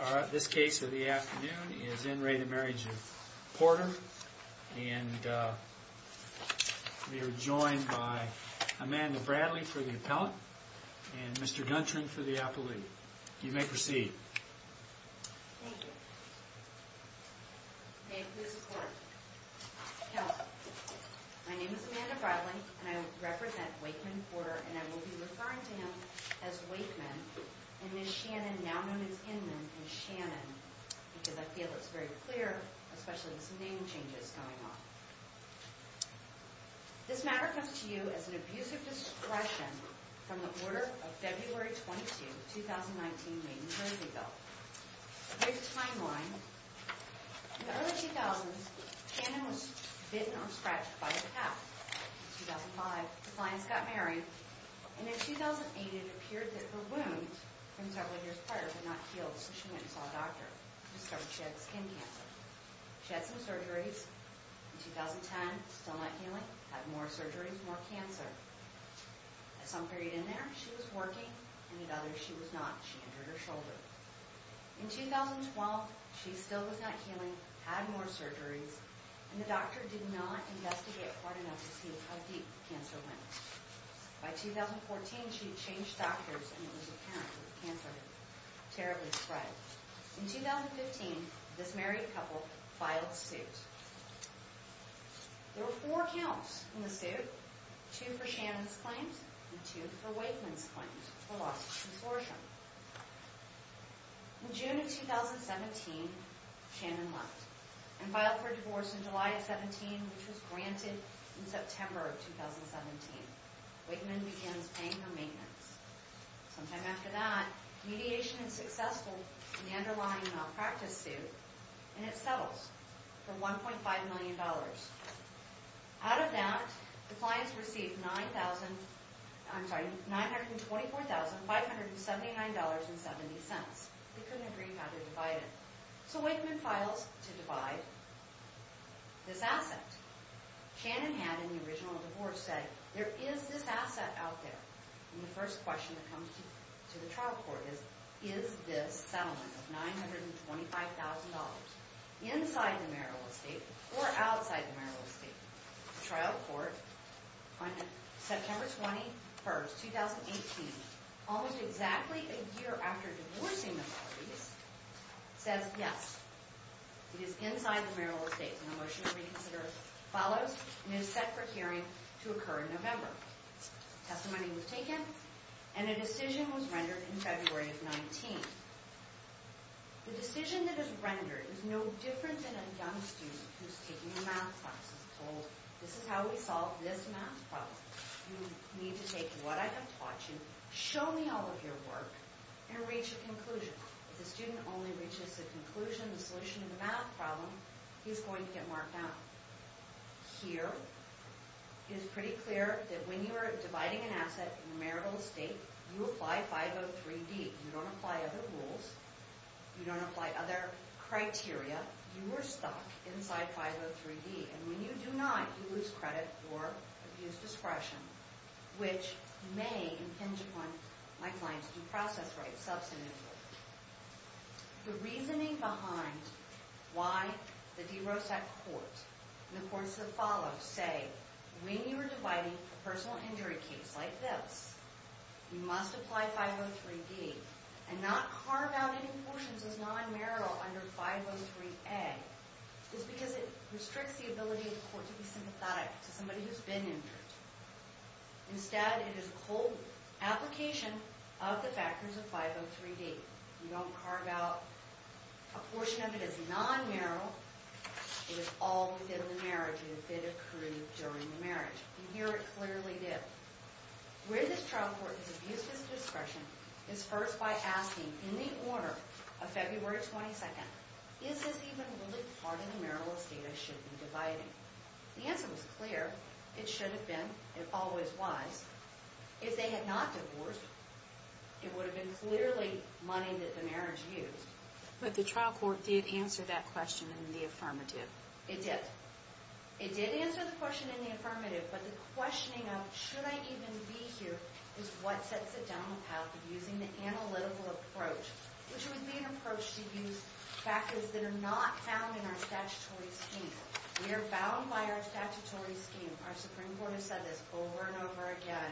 Alright, this case of the afternoon is in re to Marriage of Porter and we are joined by Amanda Bradley for the appellant and Mr. Guntran for the appellate. You may proceed. Thank you. May it please the court. Now, my name is Amanda Bradley and I represent Wakeman Porter and I will be referring to him as Wakeman and Ms. Shannon, now known as Inman, as Shannon because I feel it's very clear, especially with some name changes going on. This matter comes to you as an abuse of discretion from the order of February 22, 2019, made in Brazil. Here's the timeline. In the early 2000s, Shannon was bitten or scratched by a cat. In 2005, the clients got married and in 2008, it appeared that her wound from several years prior did not heal so she went and saw a doctor. The doctor discovered she had skin cancer. She had some surgeries. In 2010, still not healing, had more surgeries, more cancer. At some period in there, she was working and at others she was not. She injured her shoulder. In 2012, she still was not healing, had more surgeries, and the doctor did not investigate hard enough to see how deep the cancer went. By 2014, she had changed doctors and it was apparent that the cancer had terribly spread. In 2015, this married couple filed suit. There were four counts in the suit, two for Shannon's claims and two for Wakeman's claims. In June of 2017, Shannon left and filed for divorce in July of 2017, which was granted in September of 2017. Wakeman begins paying her maintenance. Sometime after that, mediation is successful in the underlying malpractice suit and it settles for $1.5 million. Out of that, the clients received $924,579.70. They couldn't agree how to divide it. So Wakeman files to divide this asset. Shannon had in the original divorce said, there is this asset out there. The first question that comes to the trial court is, is this settlement of $925,000 inside the marital estate or outside the marital estate? The trial court on September 21, 2018, almost exactly a year after divorcing the parties, says yes, it is inside the marital estate. The motion to reconsider follows and is set for hearing to occur in November. Testimony was taken and a decision was rendered in February of 2019. The decision that is rendered is no different than a young student who is taking a math class and is told, this is how we solve this math problem. You need to take what I have taught you, show me all of your work, and reach a conclusion. If the student only reaches the conclusion, the solution to the math problem, he's going to get marked out. Here, it is pretty clear that when you are dividing an asset in a marital estate, you apply 503D. You don't apply other rules. You don't apply other criteria. You are stuck inside 503D. And when you do not, you lose credit or abuse discretion, which may impinge upon my client's due process rights substantively. The reasoning behind why the DeRosa court and the courts that follow say, when you are dividing a personal injury case like this, you must apply 503D and not carve out any portions as non-marital under 503A is because it restricts the ability of the court to be sympathetic to somebody who has been injured. Instead, it is a cold application of the factors of 503D. You don't carve out a portion of it as non-marital. It is all within the marriage. It occurred during the marriage. And here it clearly did. Where this trial court has abused its discretion is first by asking, in the order of February 22nd, is this even really part of the marital estate I should be dividing? The answer was clear. It should have been. It always was. If they had not divorced, it would have been clearly money that the marriage used. But the trial court did answer that question in the affirmative. It did. It did answer the question in the affirmative. But the questioning of should I even be here is what sets it down the path of using the analytical approach, which would be an approach to use factors that are not found in our statutory scheme. We are bound by our statutory scheme. Our Supreme Court has said this over and over again.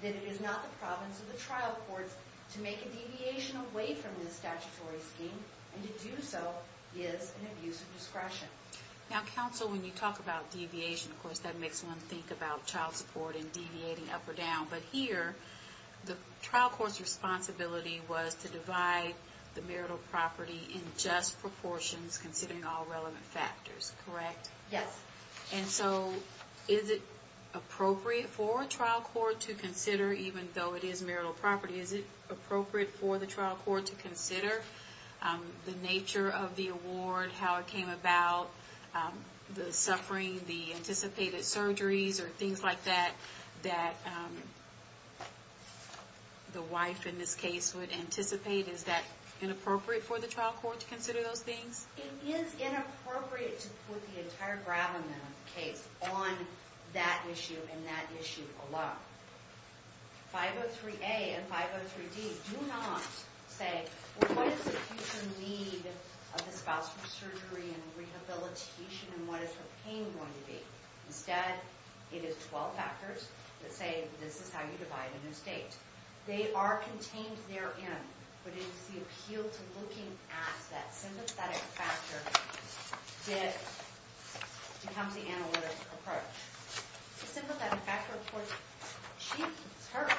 That it is not the province of the trial courts to make a deviation away from this statutory scheme. And to do so is an abuse of discretion. Now, counsel, when you talk about deviation, of course, that makes one think about child support and deviating up or down. But here, the trial court's responsibility was to divide the marital property in just proportions, considering all relevant factors, correct? Yes. And so, is it appropriate for a trial court to consider, even though it is marital property, is it appropriate for the trial court to consider the nature of the award, how it came about, the suffering, the anticipated surgeries, or things like that, that the wife in this case would anticipate? Is that inappropriate for the trial court to consider those things? It is inappropriate to put the entire Gravelman case on that issue and that issue alone. 503A and 503D do not say, well, what is the future need of the spousal surgery and rehabilitation, and what is her pain going to be? Instead, it is 12 factors that say, this is how you divide a new state. They are contained therein, but it is the appeal to looking at that sympathetic factor that becomes the analytic approach. The sympathetic factor reports, she's hurt,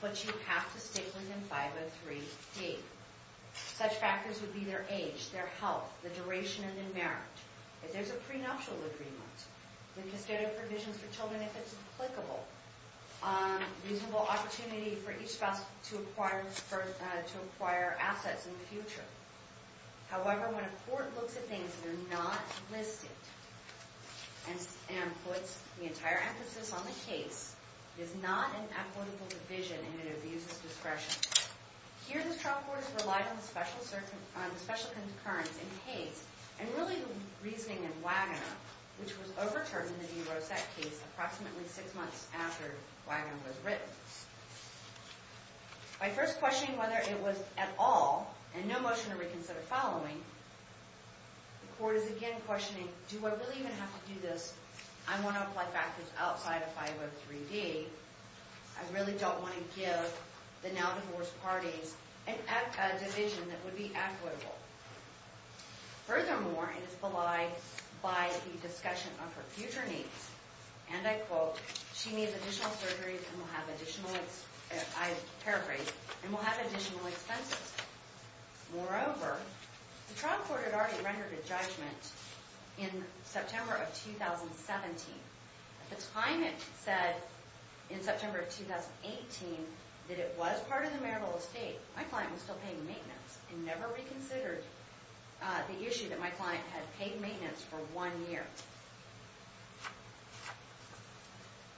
but you have to stick with them 503D. Such factors would be their age, their health, the duration of the marriage. If there's a prenuptial agreement, then consider provisions for children if it's applicable. Reasonable opportunity for each spouse to acquire assets in the future. However, when a court looks at things that are not listed and puts the entire emphasis on the case, it is not an equitable division and it abuses discretion. Here, the trial court has relied on the special concurrence in Hayes, and really the reasoning in Wagoner, which was overturned in the de Rosette case approximately six months after Wagoner was written. By first questioning whether it was at all, and no motion to reconsider following, the court is again questioning, do I really even have to do this? I want to apply factors outside of 503D. I really don't want to give the now-divorced parties a division that would be equitable. Furthermore, it is belied by the discussion of her future needs, and I quote, she needs additional surgeries and will have additional expenses. Moreover, the trial court had already rendered a judgment in September of 2017. At the time it said in September of 2018 that it was part of the marital estate, my client was still paying maintenance and never reconsidered the issue that my client had paid maintenance for one year.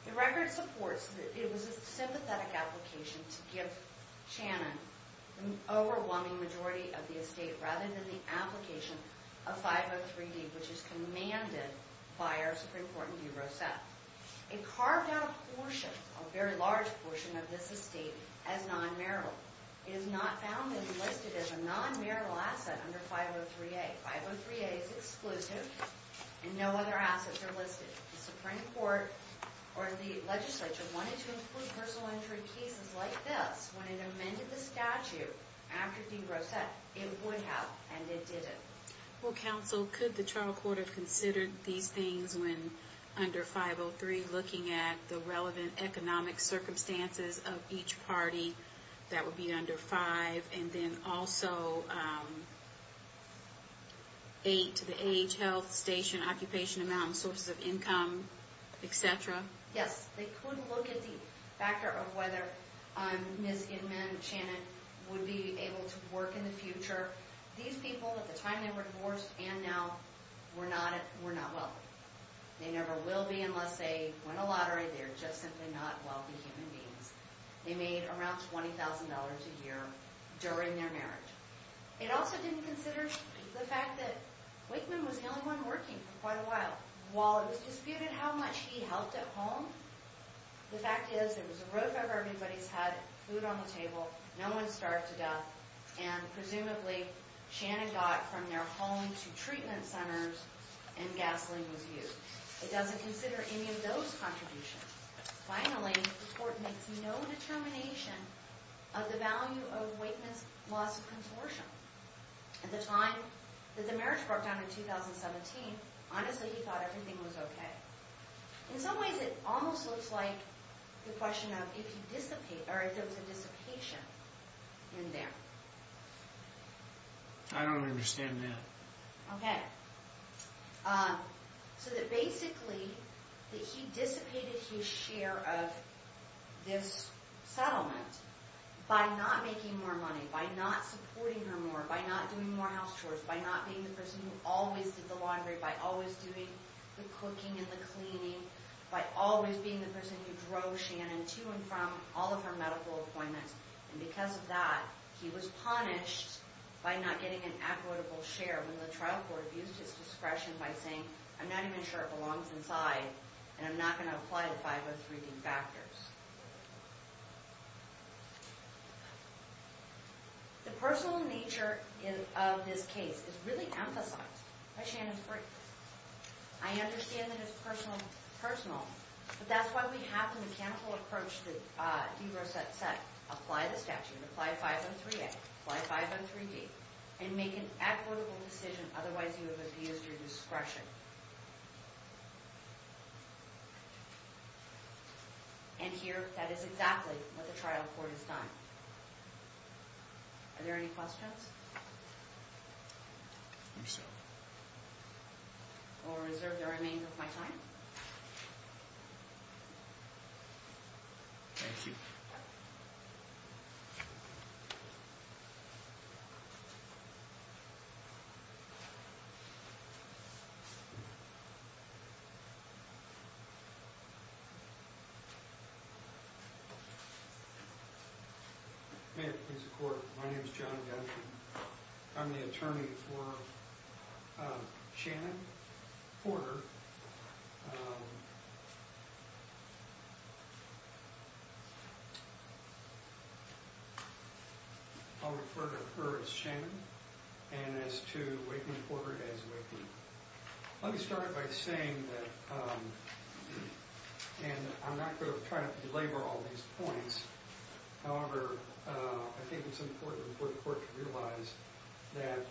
The record supports that it was a sympathetic application to give Shannon an overwhelming majority of the estate rather than the application of 503D, which is commanded by our Supreme Court in de Rosette. It carved out a portion, a very large portion, of this estate as non-marital. It is not found listed as a non-marital asset under 503A. 503A is exclusive, and no other assets are listed. The Supreme Court or the legislature wanted to include personal injury cases like this when it amended the statute after de Rosette. It would have, and it didn't. Well, counsel, could the trial court have considered these things when under 503, looking at the relevant economic circumstances of each party, that would be under five, and then also eight to the age, health, station, occupation amount, and sources of income, et cetera? Yes, they could look at the factor of whether Ms. Inman and Shannon would be able to work in the future. These people, at the time they were divorced and now, were not wealthy. They never will be unless they win a lottery. They're just simply not wealthy human beings. They made around $20,000 a year during their marriage. It also didn't consider the fact that Wakeman was the only one working for quite a while. While it was disputed how much he helped at home, the fact is it was a roof over everybody's head, food on the table, no one starved to death, and presumably, Shannon got from their home to treatment centers and gasoline was used. It doesn't consider any of those contributions. Finally, the court makes no determination of the value of Wakeman's loss of contortion. At the time that the marriage broke down in 2017, honestly, he thought everything was okay. In some ways, it almost looks like the question of if there was a dissipation in there. I don't understand that. Okay. So that basically, that he dissipated his share of this settlement by not making more money, by not supporting her more, by not doing more house chores, by not being the person who always did the laundry, by always doing the cooking and the cleaning, by always being the person who drove Shannon to and from all of her medical appointments. And because of that, he was punished by not getting an equitable share when the trial court abused his discretion by saying, I'm not even sure it belongs inside and I'm not going to apply the 503D factors. The personal nature of this case is really emphasized by Shannon's brief. I understand that it's personal, but that's why we have the mechanical approach that DeRosette set. Apply the statute, apply 503A, apply 503D, and make an equitable decision. Otherwise, you have abused your discretion. And here, that is exactly what the trial court has done. Are there any questions? No, sir. I will reserve the remainder of my time. Thank you. My name is John Duncan. I'm the attorney for Shannon Porter. I'll refer to her as Shannon and as to Whitney Porter as Whitney. Let me start by saying that, and I'm not going to try to belabor all these points, however, I think it's important for the court to realize that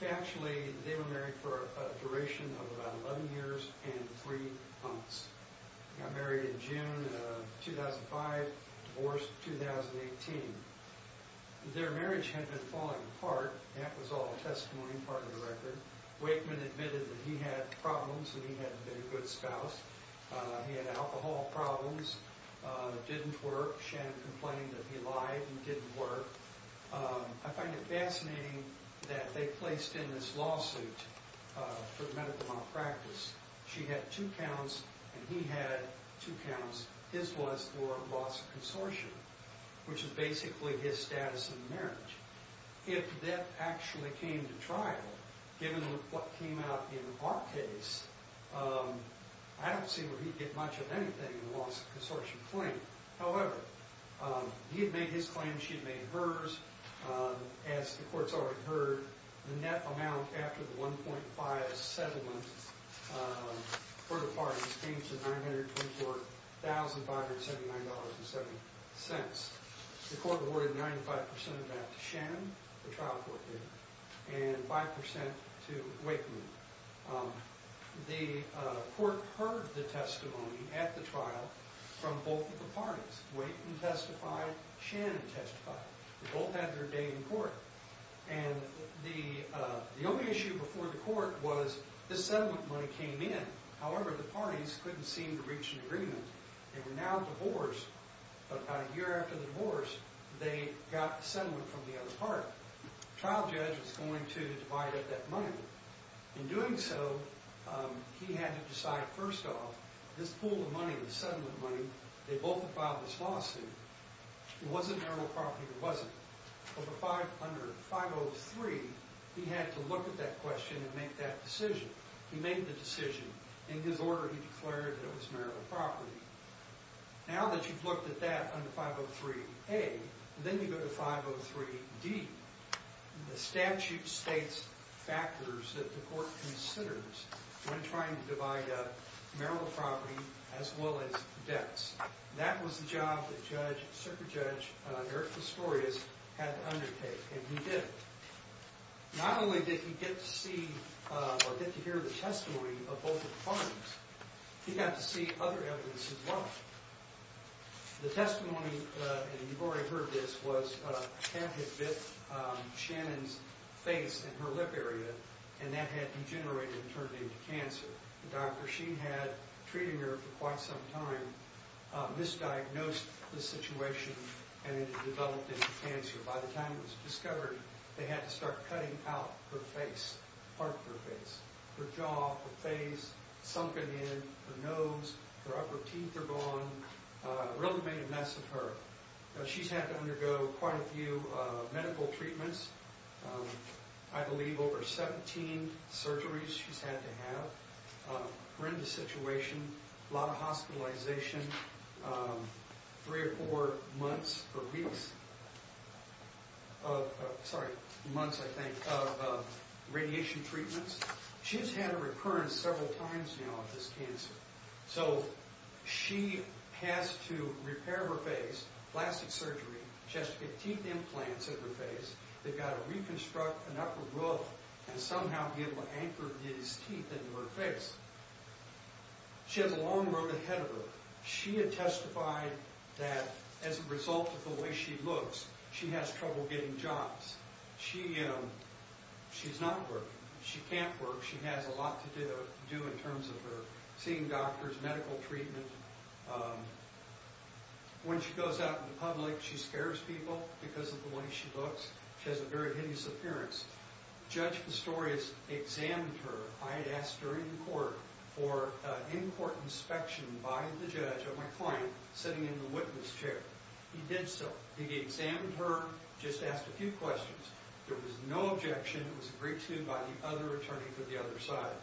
factually, they were married for a duration of about 11 years and 3 months. They got married in June of 2005, divorced in 2018. Their marriage had been falling apart. That was all testimony, part of the record. Wakeman admitted that he had problems and he hadn't been a good spouse. He had alcohol problems, didn't work. Shannon complained that he lied and didn't work. I find it fascinating that they placed in this lawsuit for medical malpractice. She had two counts and he had two counts. His was for loss of consortium, which is basically his status in marriage. If that actually came to trial, given what came out in our case, I don't see where he'd get much of anything in the loss of consortium claim. However, he had made his claim, she had made hers. As the courts already heard, the net amount after the 1.5 settlement for the parties came to $924,579.70. The court awarded 95% of that to Shannon, the trial court did, and 5% to Wakeman. The court heard the testimony at the trial from both of the parties. Wakeman testified, Shannon testified. They both had their day in court. The only issue before the court was this settlement money came in. They were now divorced, but about a year after the divorce, they got the settlement from the other party. The trial judge was going to divide up that money. In doing so, he had to decide first off, this pool of money, the settlement money, they both filed this lawsuit. It wasn't marital property, it wasn't. Over 503, he had to look at that question and make that decision. He made the decision. In his order, he declared that it was marital property. Now that you've looked at that under 503A, then you go to 503D. The statute states factors that the court considers when trying to divide up marital property as well as debts. That was the job that Judge, Circuit Judge Eric Vistorius had to undertake, and he did. Not only did he get to see or get to hear the testimony of both parties, he got to see other evidence as well. The testimony, and you've already heard this, was a cat had bit Shannon's face and her lip area, and that had degenerated and turned into cancer. The doctor, she had treated her for quite some time, misdiagnosed the situation, and it had developed into cancer. By the time it was discovered, they had to start cutting out her face, part of her face. Her jaw, her face, sunken in, her nose, her upper teeth are gone. It really made a mess of her. She's had to undergo quite a few medical treatments. I believe over 17 surgeries she's had to have. Horrendous situation, a lot of hospitalization, three or four months or weeks, sorry, months, I think, of radiation treatments. She's had a recurrence several times now of this cancer. So she has to repair her face, plastic surgery, she has to get teeth implants of her face. They've got to reconstruct an upper roof and somehow be able to anchor these teeth into her face. She has a long road ahead of her. She had testified that as a result of the way she looks, she has trouble getting jobs. She's not working. She can't work. She has a lot to do in terms of her seeing doctors, medical treatment. When she goes out in public, she scares people because of the way she looks. She has a very hideous appearance. Judge Pistorius examined her. I had asked her in court for an in-court inspection by the judge of my client sitting in the witness chair. He did so. He examined her, just asked a few questions. There was no objection. It was agreed to by the other attorney for the other side.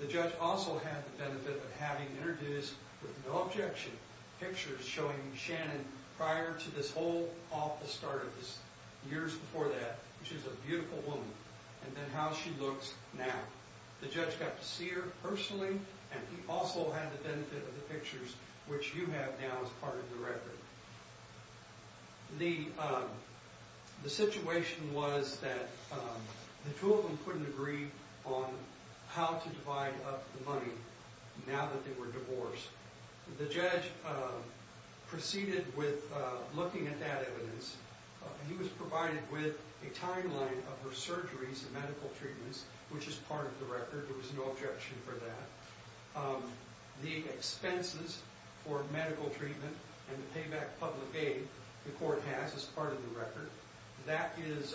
The judge also had the benefit of having interviews with no objection, pictures showing Shannon prior to this whole off the start of this, years before that. She's a beautiful woman. And then how she looks now. The judge got to see her personally, and he also had the benefit of the pictures, which you have now as part of the record. The situation was that the two of them couldn't agree on how to divide up the money now that they were divorced. The judge proceeded with looking at that evidence. He was provided with a timeline of her surgeries and medical treatments, which is part of the record. There was no objection for that. The expenses for medical treatment and the payback public aid the court has as part of the record, that is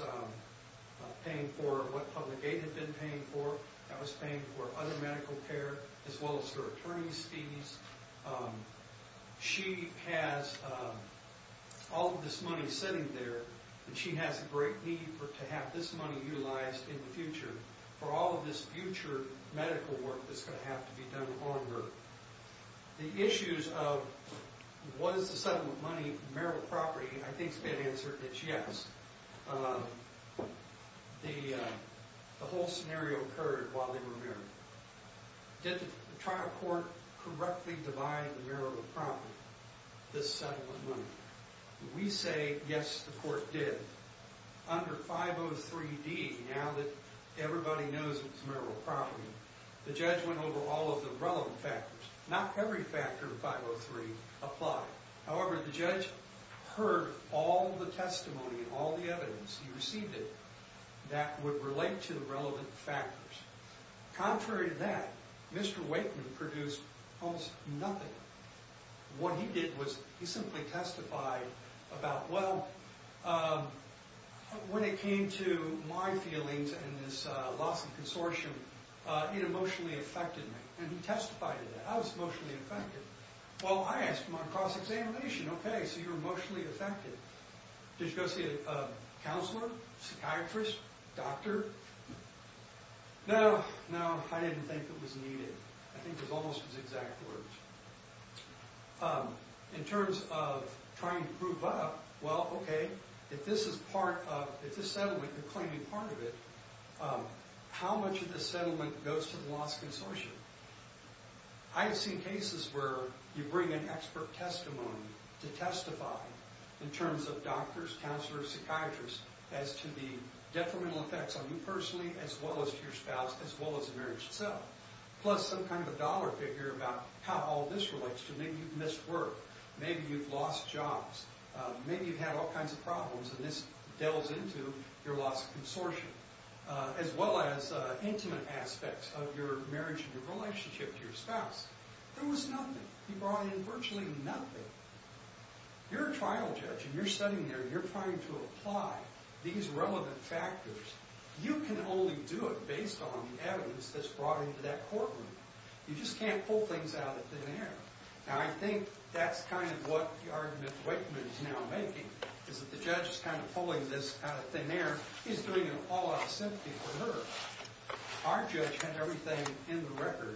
paying for what public aid had been paying for. That was paying for other medical care, as well as her attorney's fees. She has all of this money sitting there, and she has a great need to have this money utilized in the future for all of this future medical work that's going to have to be done on her. The issues of was the settlement money marital property, I think the answer is yes. The whole scenario occurred while they were married. Did the trial court correctly divide the marital property, the settlement money? We say yes, the court did. Under 503D, now that everybody knows it was marital property, the judge went over all of the relevant factors. Not every factor in 503 applied. However, the judge heard all the testimony and all the evidence. He received it that would relate to the relevant factors. Contrary to that, Mr. Wakeman produced almost nothing. What he did was he simply testified about, well, when it came to my feelings and this loss of consortium, it emotionally affected me. He testified that I was emotionally affected. Well, I asked him on cross-examination, okay, so you're emotionally affected. Did you go see a counselor, psychiatrist, doctor? No, no, I didn't think it was needed. I think it was almost his exact words. In terms of trying to prove up, well, okay, if this settlement, you're claiming part of it, how much of this settlement goes to the lost consortium? I've seen cases where you bring an expert testimony to testify in terms of doctors, counselors, psychiatrists, as to the detrimental effects on you personally, as well as to your spouse, as well as the marriage itself. Plus some kind of a dollar figure about how all this relates to maybe you've missed work. Maybe you've lost jobs. Maybe you've had all kinds of problems, and this delves into your lost consortium, as well as intimate aspects of your marriage and your relationship to your spouse. There was nothing. He brought in virtually nothing. You're a trial judge, and you're sitting there, and you're trying to apply these relevant factors. You can only do it based on the evidence that's brought into that courtroom. You just can't pull things out of thin air. Now, I think that's kind of what the argument Wakeman is now making, is that the judge is kind of pulling this out of thin air. He's doing it all out of sympathy for her. Our judge had everything in the record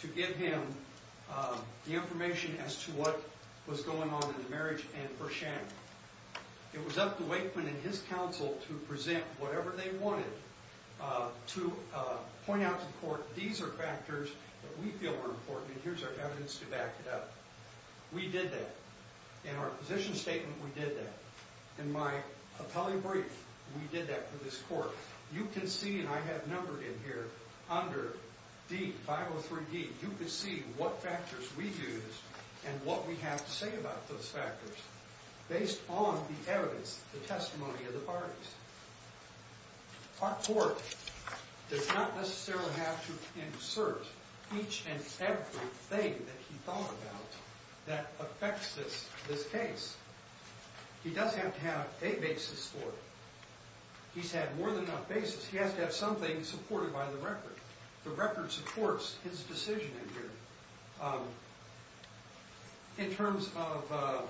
to give him the information as to what was going on in the marriage and for Shannon. It was up to Wakeman and his counsel to present whatever they wanted to point out to the court, these are factors that we feel are important, and here's our evidence to back it up. We did that. In our position statement, we did that. In my appellee brief, we did that for this court. You can see, and I have numbered in here, under D, 503D, you can see what factors we used and what we have to say about those factors. Based on the evidence, the testimony of the parties. Our court does not necessarily have to insert each and every thing that he thought about that affects this case. He does have to have a basis for it. He's had more than enough basis. He has to have something supported by the record. The record supports his decision in here. In terms of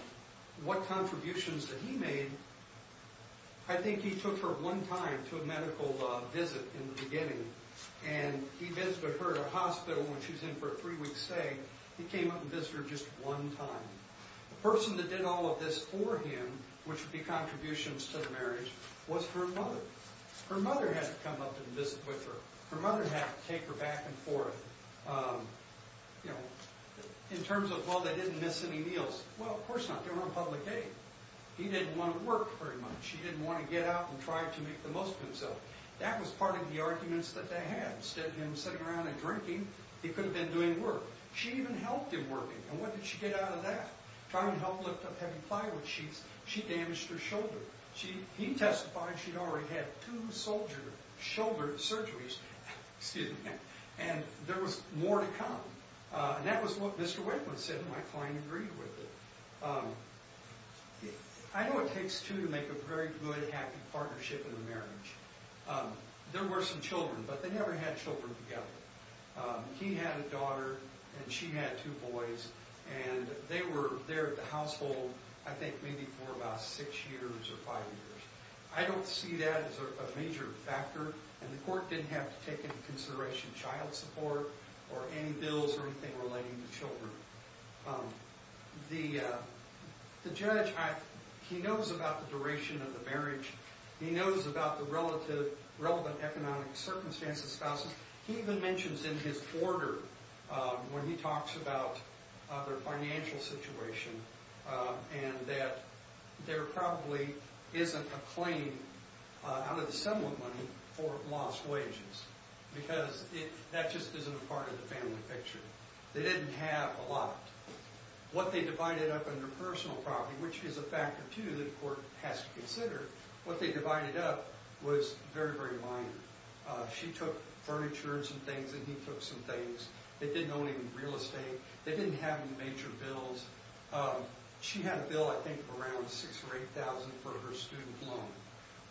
what contributions that he made, I think he took her one time to a medical visit in the beginning, and he visited her at a hospital when she was in for a three-week stay. He came up and visited her just one time. The person that did all of this for him, which would be contributions to the marriage, was her mother. Her mother had to come up and visit with her. Her mother had to take her back and forth. In terms of, well, they didn't miss any meals, well, of course not. They were on public aid. He didn't want to work very much. He didn't want to get up and try to make the most of himself. That was part of the arguments that they had. Instead of him sitting around and drinking, he could have been doing work. She even helped him work. And what did she get out of that? Trying to help lift up heavy plywood sheets, she damaged her shoulder. He testified she'd already had two shoulder surgeries. And there was more to come. And that was what Mr. Wakeman said, and my client agreed with it. I know it takes two to make a very good, happy partnership in a marriage. There were some children, but they never had children together. He had a daughter, and she had two boys. And they were there at the household, I think, maybe for about six years or five years. I don't see that as a major factor, and the court didn't have to take into consideration child support or any bills or anything relating to children. The judge, he knows about the duration of the marriage. He knows about the relevant economic circumstances of spouses. He even mentions in his order when he talks about their financial situation and that there probably isn't a claim out of the sum of money for lost wages because that just isn't a part of the family picture. They didn't have a lot. What they divided up under personal property, which is a factor, too, that the court has to consider, what they divided up was very, very minor. She took furniture and some things, and he took some things. They didn't own any real estate. They didn't have any major bills. She had a bill, I think, around $6,000 or $8,000 for her student loan,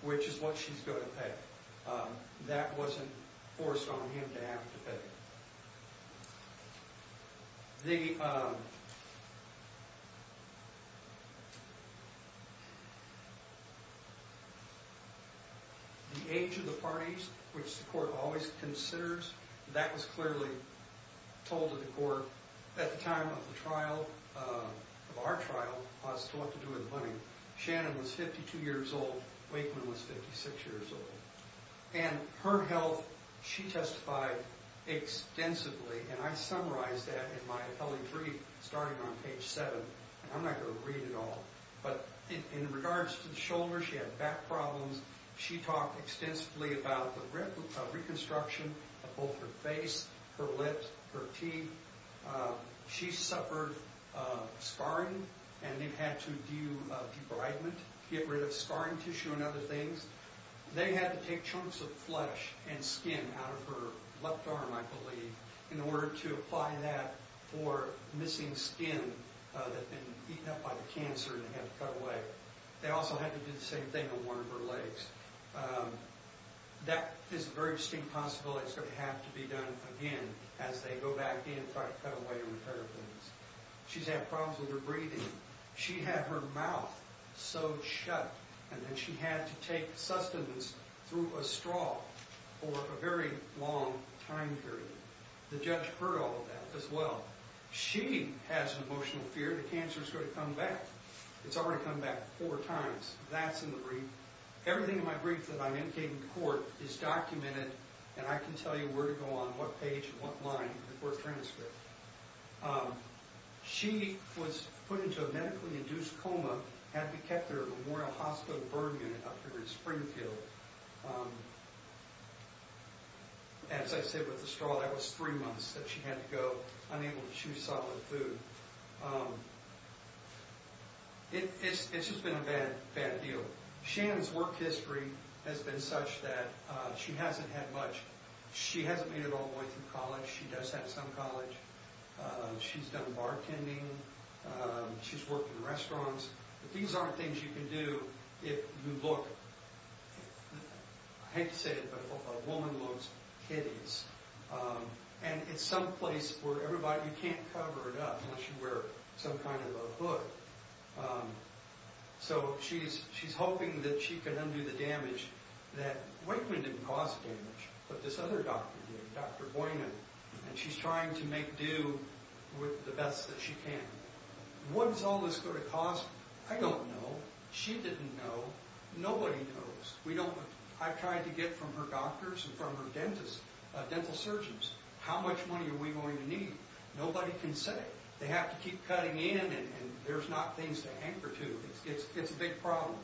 which is what she's going to pay. That wasn't forced on him to have to pay. The age of the parties, which the court always considers, that was clearly told to the court at the time of the trial, of our trial as to what to do with the money. Shannon was 52 years old. Wakeman was 56 years old. Her health, she testified extensively, and I summarized that in my appellate brief starting on page 7. I'm not going to read it all. In regards to the shoulder, she had back problems. She talked extensively about the reconstruction of both her face, her lips, her teeth. She suffered scarring, and they had to do debridement, get rid of scarring tissue and other things. They had to take chunks of flesh and skin out of her left arm, I believe, in order to apply that for missing skin that had been eaten up by the cancer and had to cut away. They also had to do the same thing on one of her legs. That is a very distinct possibility. It's going to have to be done again as they go back in and try to cut away and repair things. She's had problems with her breathing. She had her mouth sewed shut, and then she had to take sustenance through a straw for a very long time period. The judge heard all of that as well. She has an emotional fear the cancer's going to come back. It's already come back four times. That's in the brief. Everything in my brief that I indicate in court is documented, and I can tell you where to go on what page and what line for the court transcript. She was put into a medically induced coma, had to be kept in a Memorial Hospital burn unit up here in Springfield. As I said with the straw, that was three months that she had to go, unable to chew solid food. It's just been a bad, bad deal. Shannon's work history has been such that she hasn't had much. She hasn't made it all the way through college. She does have some college. She's done bartending. She's worked in restaurants. These aren't things you can do if you look. I hate to say it, but a woman looks hideous. It's some place where you can't cover it up unless you wear some kind of a hood. She's hoping that she can undo the damage. Wakeman didn't cause the damage, but this other doctor did, Dr. Boynon. She's trying to make do with the best that she can. What is all this going to cause? I don't know. She didn't know. Nobody knows. I've tried to get from her doctors and from her dentists, dental surgeons. How much money are we going to need? Nobody can say. They have to keep cutting in, and there's not things to anchor to. It's a big problem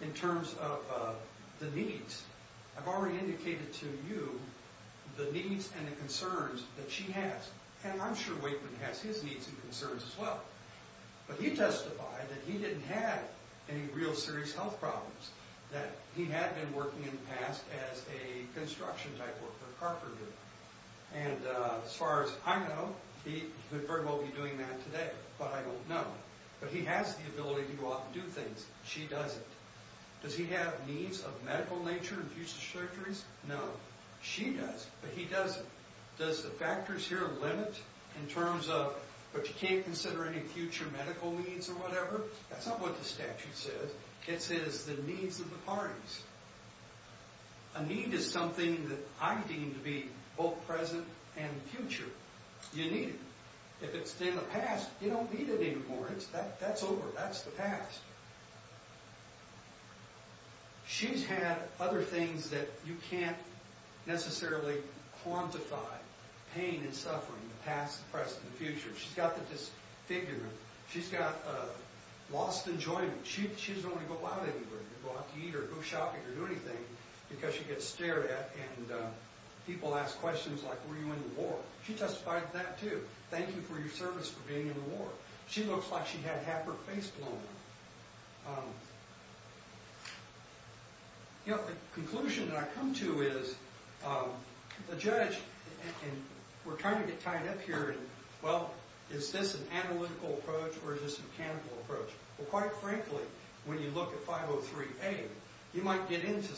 in terms of the needs. I've already indicated to you the needs and the concerns that she has, and I'm sure Wakeman has his needs and concerns as well. He testified that he didn't have any real serious health problems, that he had been working in the past as a construction type worker at Carpenter. As far as I know, he could very well be doing that today, but I don't know. He has the ability to go out and do things. She doesn't. Does he have needs of medical nature and future surgeries? No. She does, but he doesn't. Does the factors here limit in terms of, but you can't consider any future medical needs or whatever? That's not what the statute says. It says the needs of the parties. A need is something that I deem to be both present and future. You need it. If it's in the past, you don't need it anymore. That's over. That's the past. She's had other things that you can't necessarily quantify, pain and suffering, the past, the present, and the future. She's got the disfigurement. She's got lost enjoyment. She doesn't want to go out anywhere, go out to eat or go shopping or do anything, because she gets stared at, and people ask questions like, were you in the war? She testified to that, too. Thank you for your service for being in the war. She looks like she had half her face blown. The conclusion that I come to is the judge, and we're trying to get tied up here, well, is this an analytical approach or is this a mechanical approach? Well, quite frankly, when you look at 503A, you might get into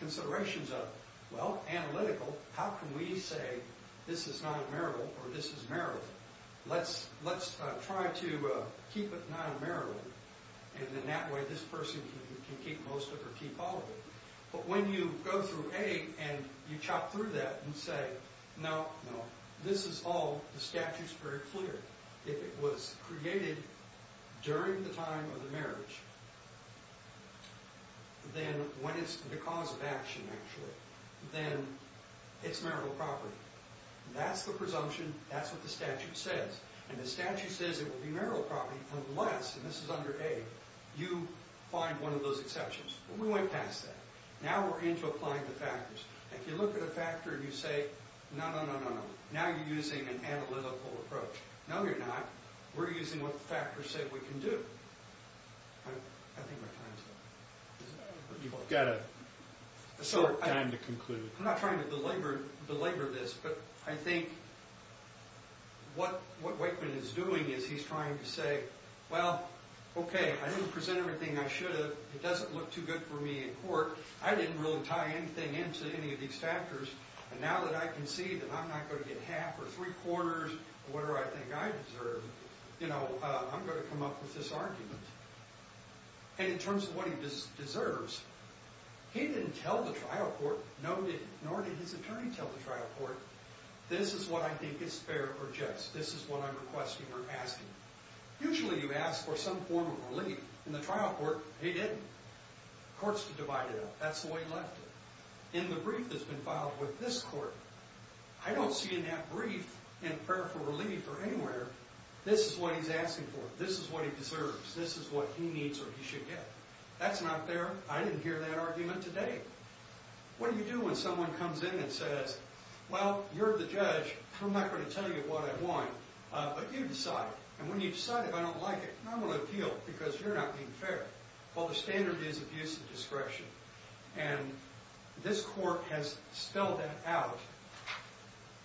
considerations of, well, analytical, how can we say this is not a miracle or this is a miracle? Let's try to keep it not a miracle, and then that way this person can keep most of it or keep all of it. But when you go through A and you chop through that and say, no, no, this is all the statute's very clear. If it was created during the time of the marriage, then when it's the cause of action, actually, then it's miracle property. That's the presumption. That's what the statute says. And the statute says it would be miracle property unless, and this is under A, you find one of those exceptions. We went past that. Now we're into applying the factors. If you look at a factor and you say, no, no, no, no, now you're using an analytical approach. No, you're not. We're using what the factors say we can do. I think my time's up. You've got a short time to conclude. I'm not trying to belabor this, but I think what Wakeman is doing is he's trying to say, well, OK, I didn't present everything I should have. It doesn't look too good for me in court. I didn't really tie anything into any of these factors, and now that I can see that I'm not going to get half or three-quarters of what I think I deserve, I'm going to come up with this argument. And in terms of what he deserves, he didn't tell the trial court. Nor did his attorney tell the trial court, this is what I think is fair or just. This is what I'm requesting or asking. Usually you ask for some form of relief. In the trial court, he didn't. Courts divide it up. That's the way he left it. In the brief that's been filed with this court, I don't see in that brief in prayer for relief or anywhere, this is what he's asking for. This is what he deserves. This is what he needs or he should get. That's not fair. I didn't hear that argument today. What do you do when someone comes in and says, well, you're the judge. I'm not going to tell you what I want. But you decide. And when you decide if I don't like it, I'm going to appeal because you're not being fair. Well, the standard is abuse of discretion. And this court has spelled that out,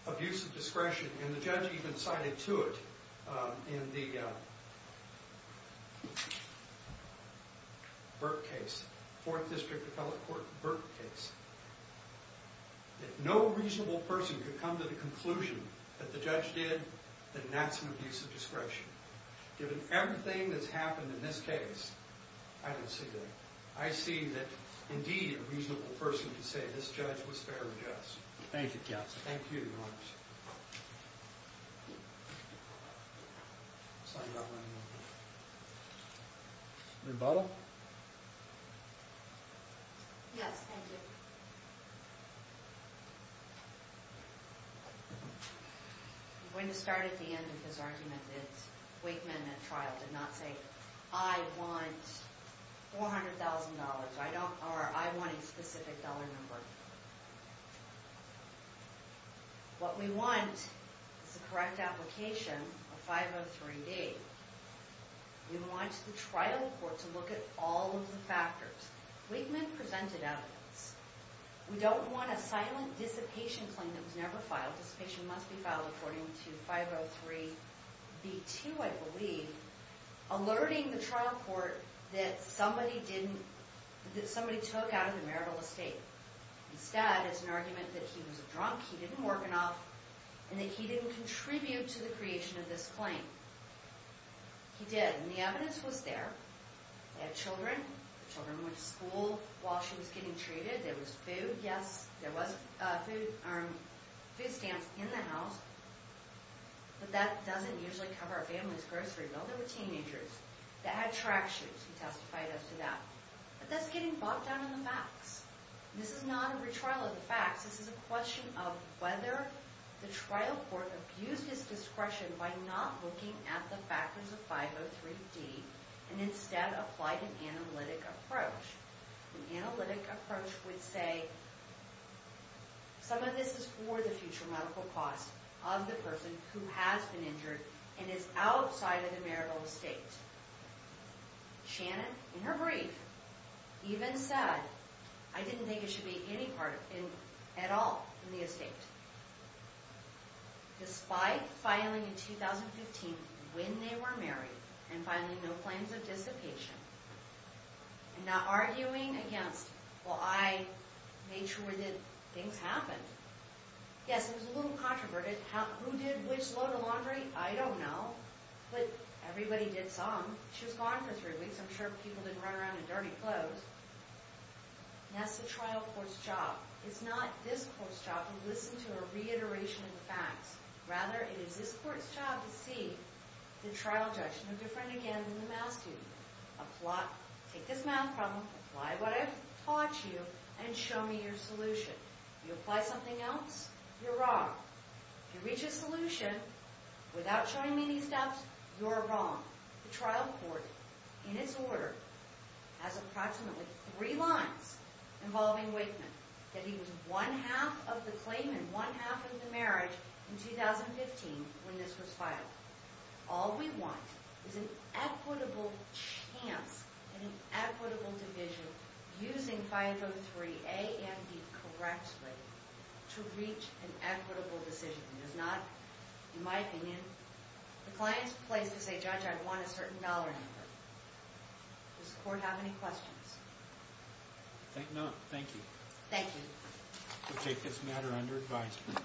abuse of discretion, and the judge even cited to it in the Burke case, Fourth District Appellate Court Burke case, that no reasonable person could come to the conclusion that the judge did that that's an abuse of discretion. Given everything that's happened in this case, I don't see that. I see that, indeed, a reasonable person can say this judge was fair and just. Thank you, counsel. Thank you, Your Honors. Rebuttal? Yes, thank you. I'm going to start at the end of his argument that Wake Mendment trial did not say, I want $400,000 or I want a specific dollar number. What we want is the correct application of 503B. We want the trial court to look at all of the factors. Wake Mendment presented evidence. We don't want a silent dissipation claim that was never filed. Dissipation must be filed according to 503B2, I believe, alerting the trial court that somebody took out of the marital estate. Instead, it's an argument that he was a drunk, he didn't work enough, and that he didn't contribute to the creation of this claim. He did, and the evidence was there. They had children. The children went to school while she was getting treated. There was food. Yes, there was a food stamp in the house, but that doesn't usually cover a family's grocery bill. They were teenagers. They had track shoes. He testified as to that. But that's getting bought down in the box. This is not a retrial of the facts. This is a question of whether the trial court abused his discretion by not looking at the factors of 503D and instead applied an analytic approach. An analytic approach would say, some of this is for the future medical cost of the person who has been injured and is outside of the marital estate. Shannon, in her brief, even said, I didn't think it should be any part at all in the estate. Despite filing in 2015 when they were married and filing no claims of dissipation and not arguing against, well, I made sure that things happened. Yes, it was a little controverted. Who did which load of laundry? I don't know, but everybody did some. She was gone for three weeks. I'm sure people didn't run around in dirty clothes. And that's the trial court's job. It's not this court's job to listen to a reiteration of the facts. Rather, it is this court's job to see the trial judge no different again than the math student. Take this math problem, apply what I've taught you, and show me your solution. You apply something else, you're wrong. If you reach a solution without showing me these steps, you're wrong. The trial court, in its order, has approximately three lines involving Wakeman, that he was one-half of the claim and one-half of the marriage in 2015 when this was filed. All we want is an equitable chance and an equitable division using 503 A and B correctly to reach an equitable decision. It is not, in my opinion, the client's place to say, Judge, I want a certain dollar number. Does the court have any questions? No, thank you. Thank you. We'll take this matter under advisement.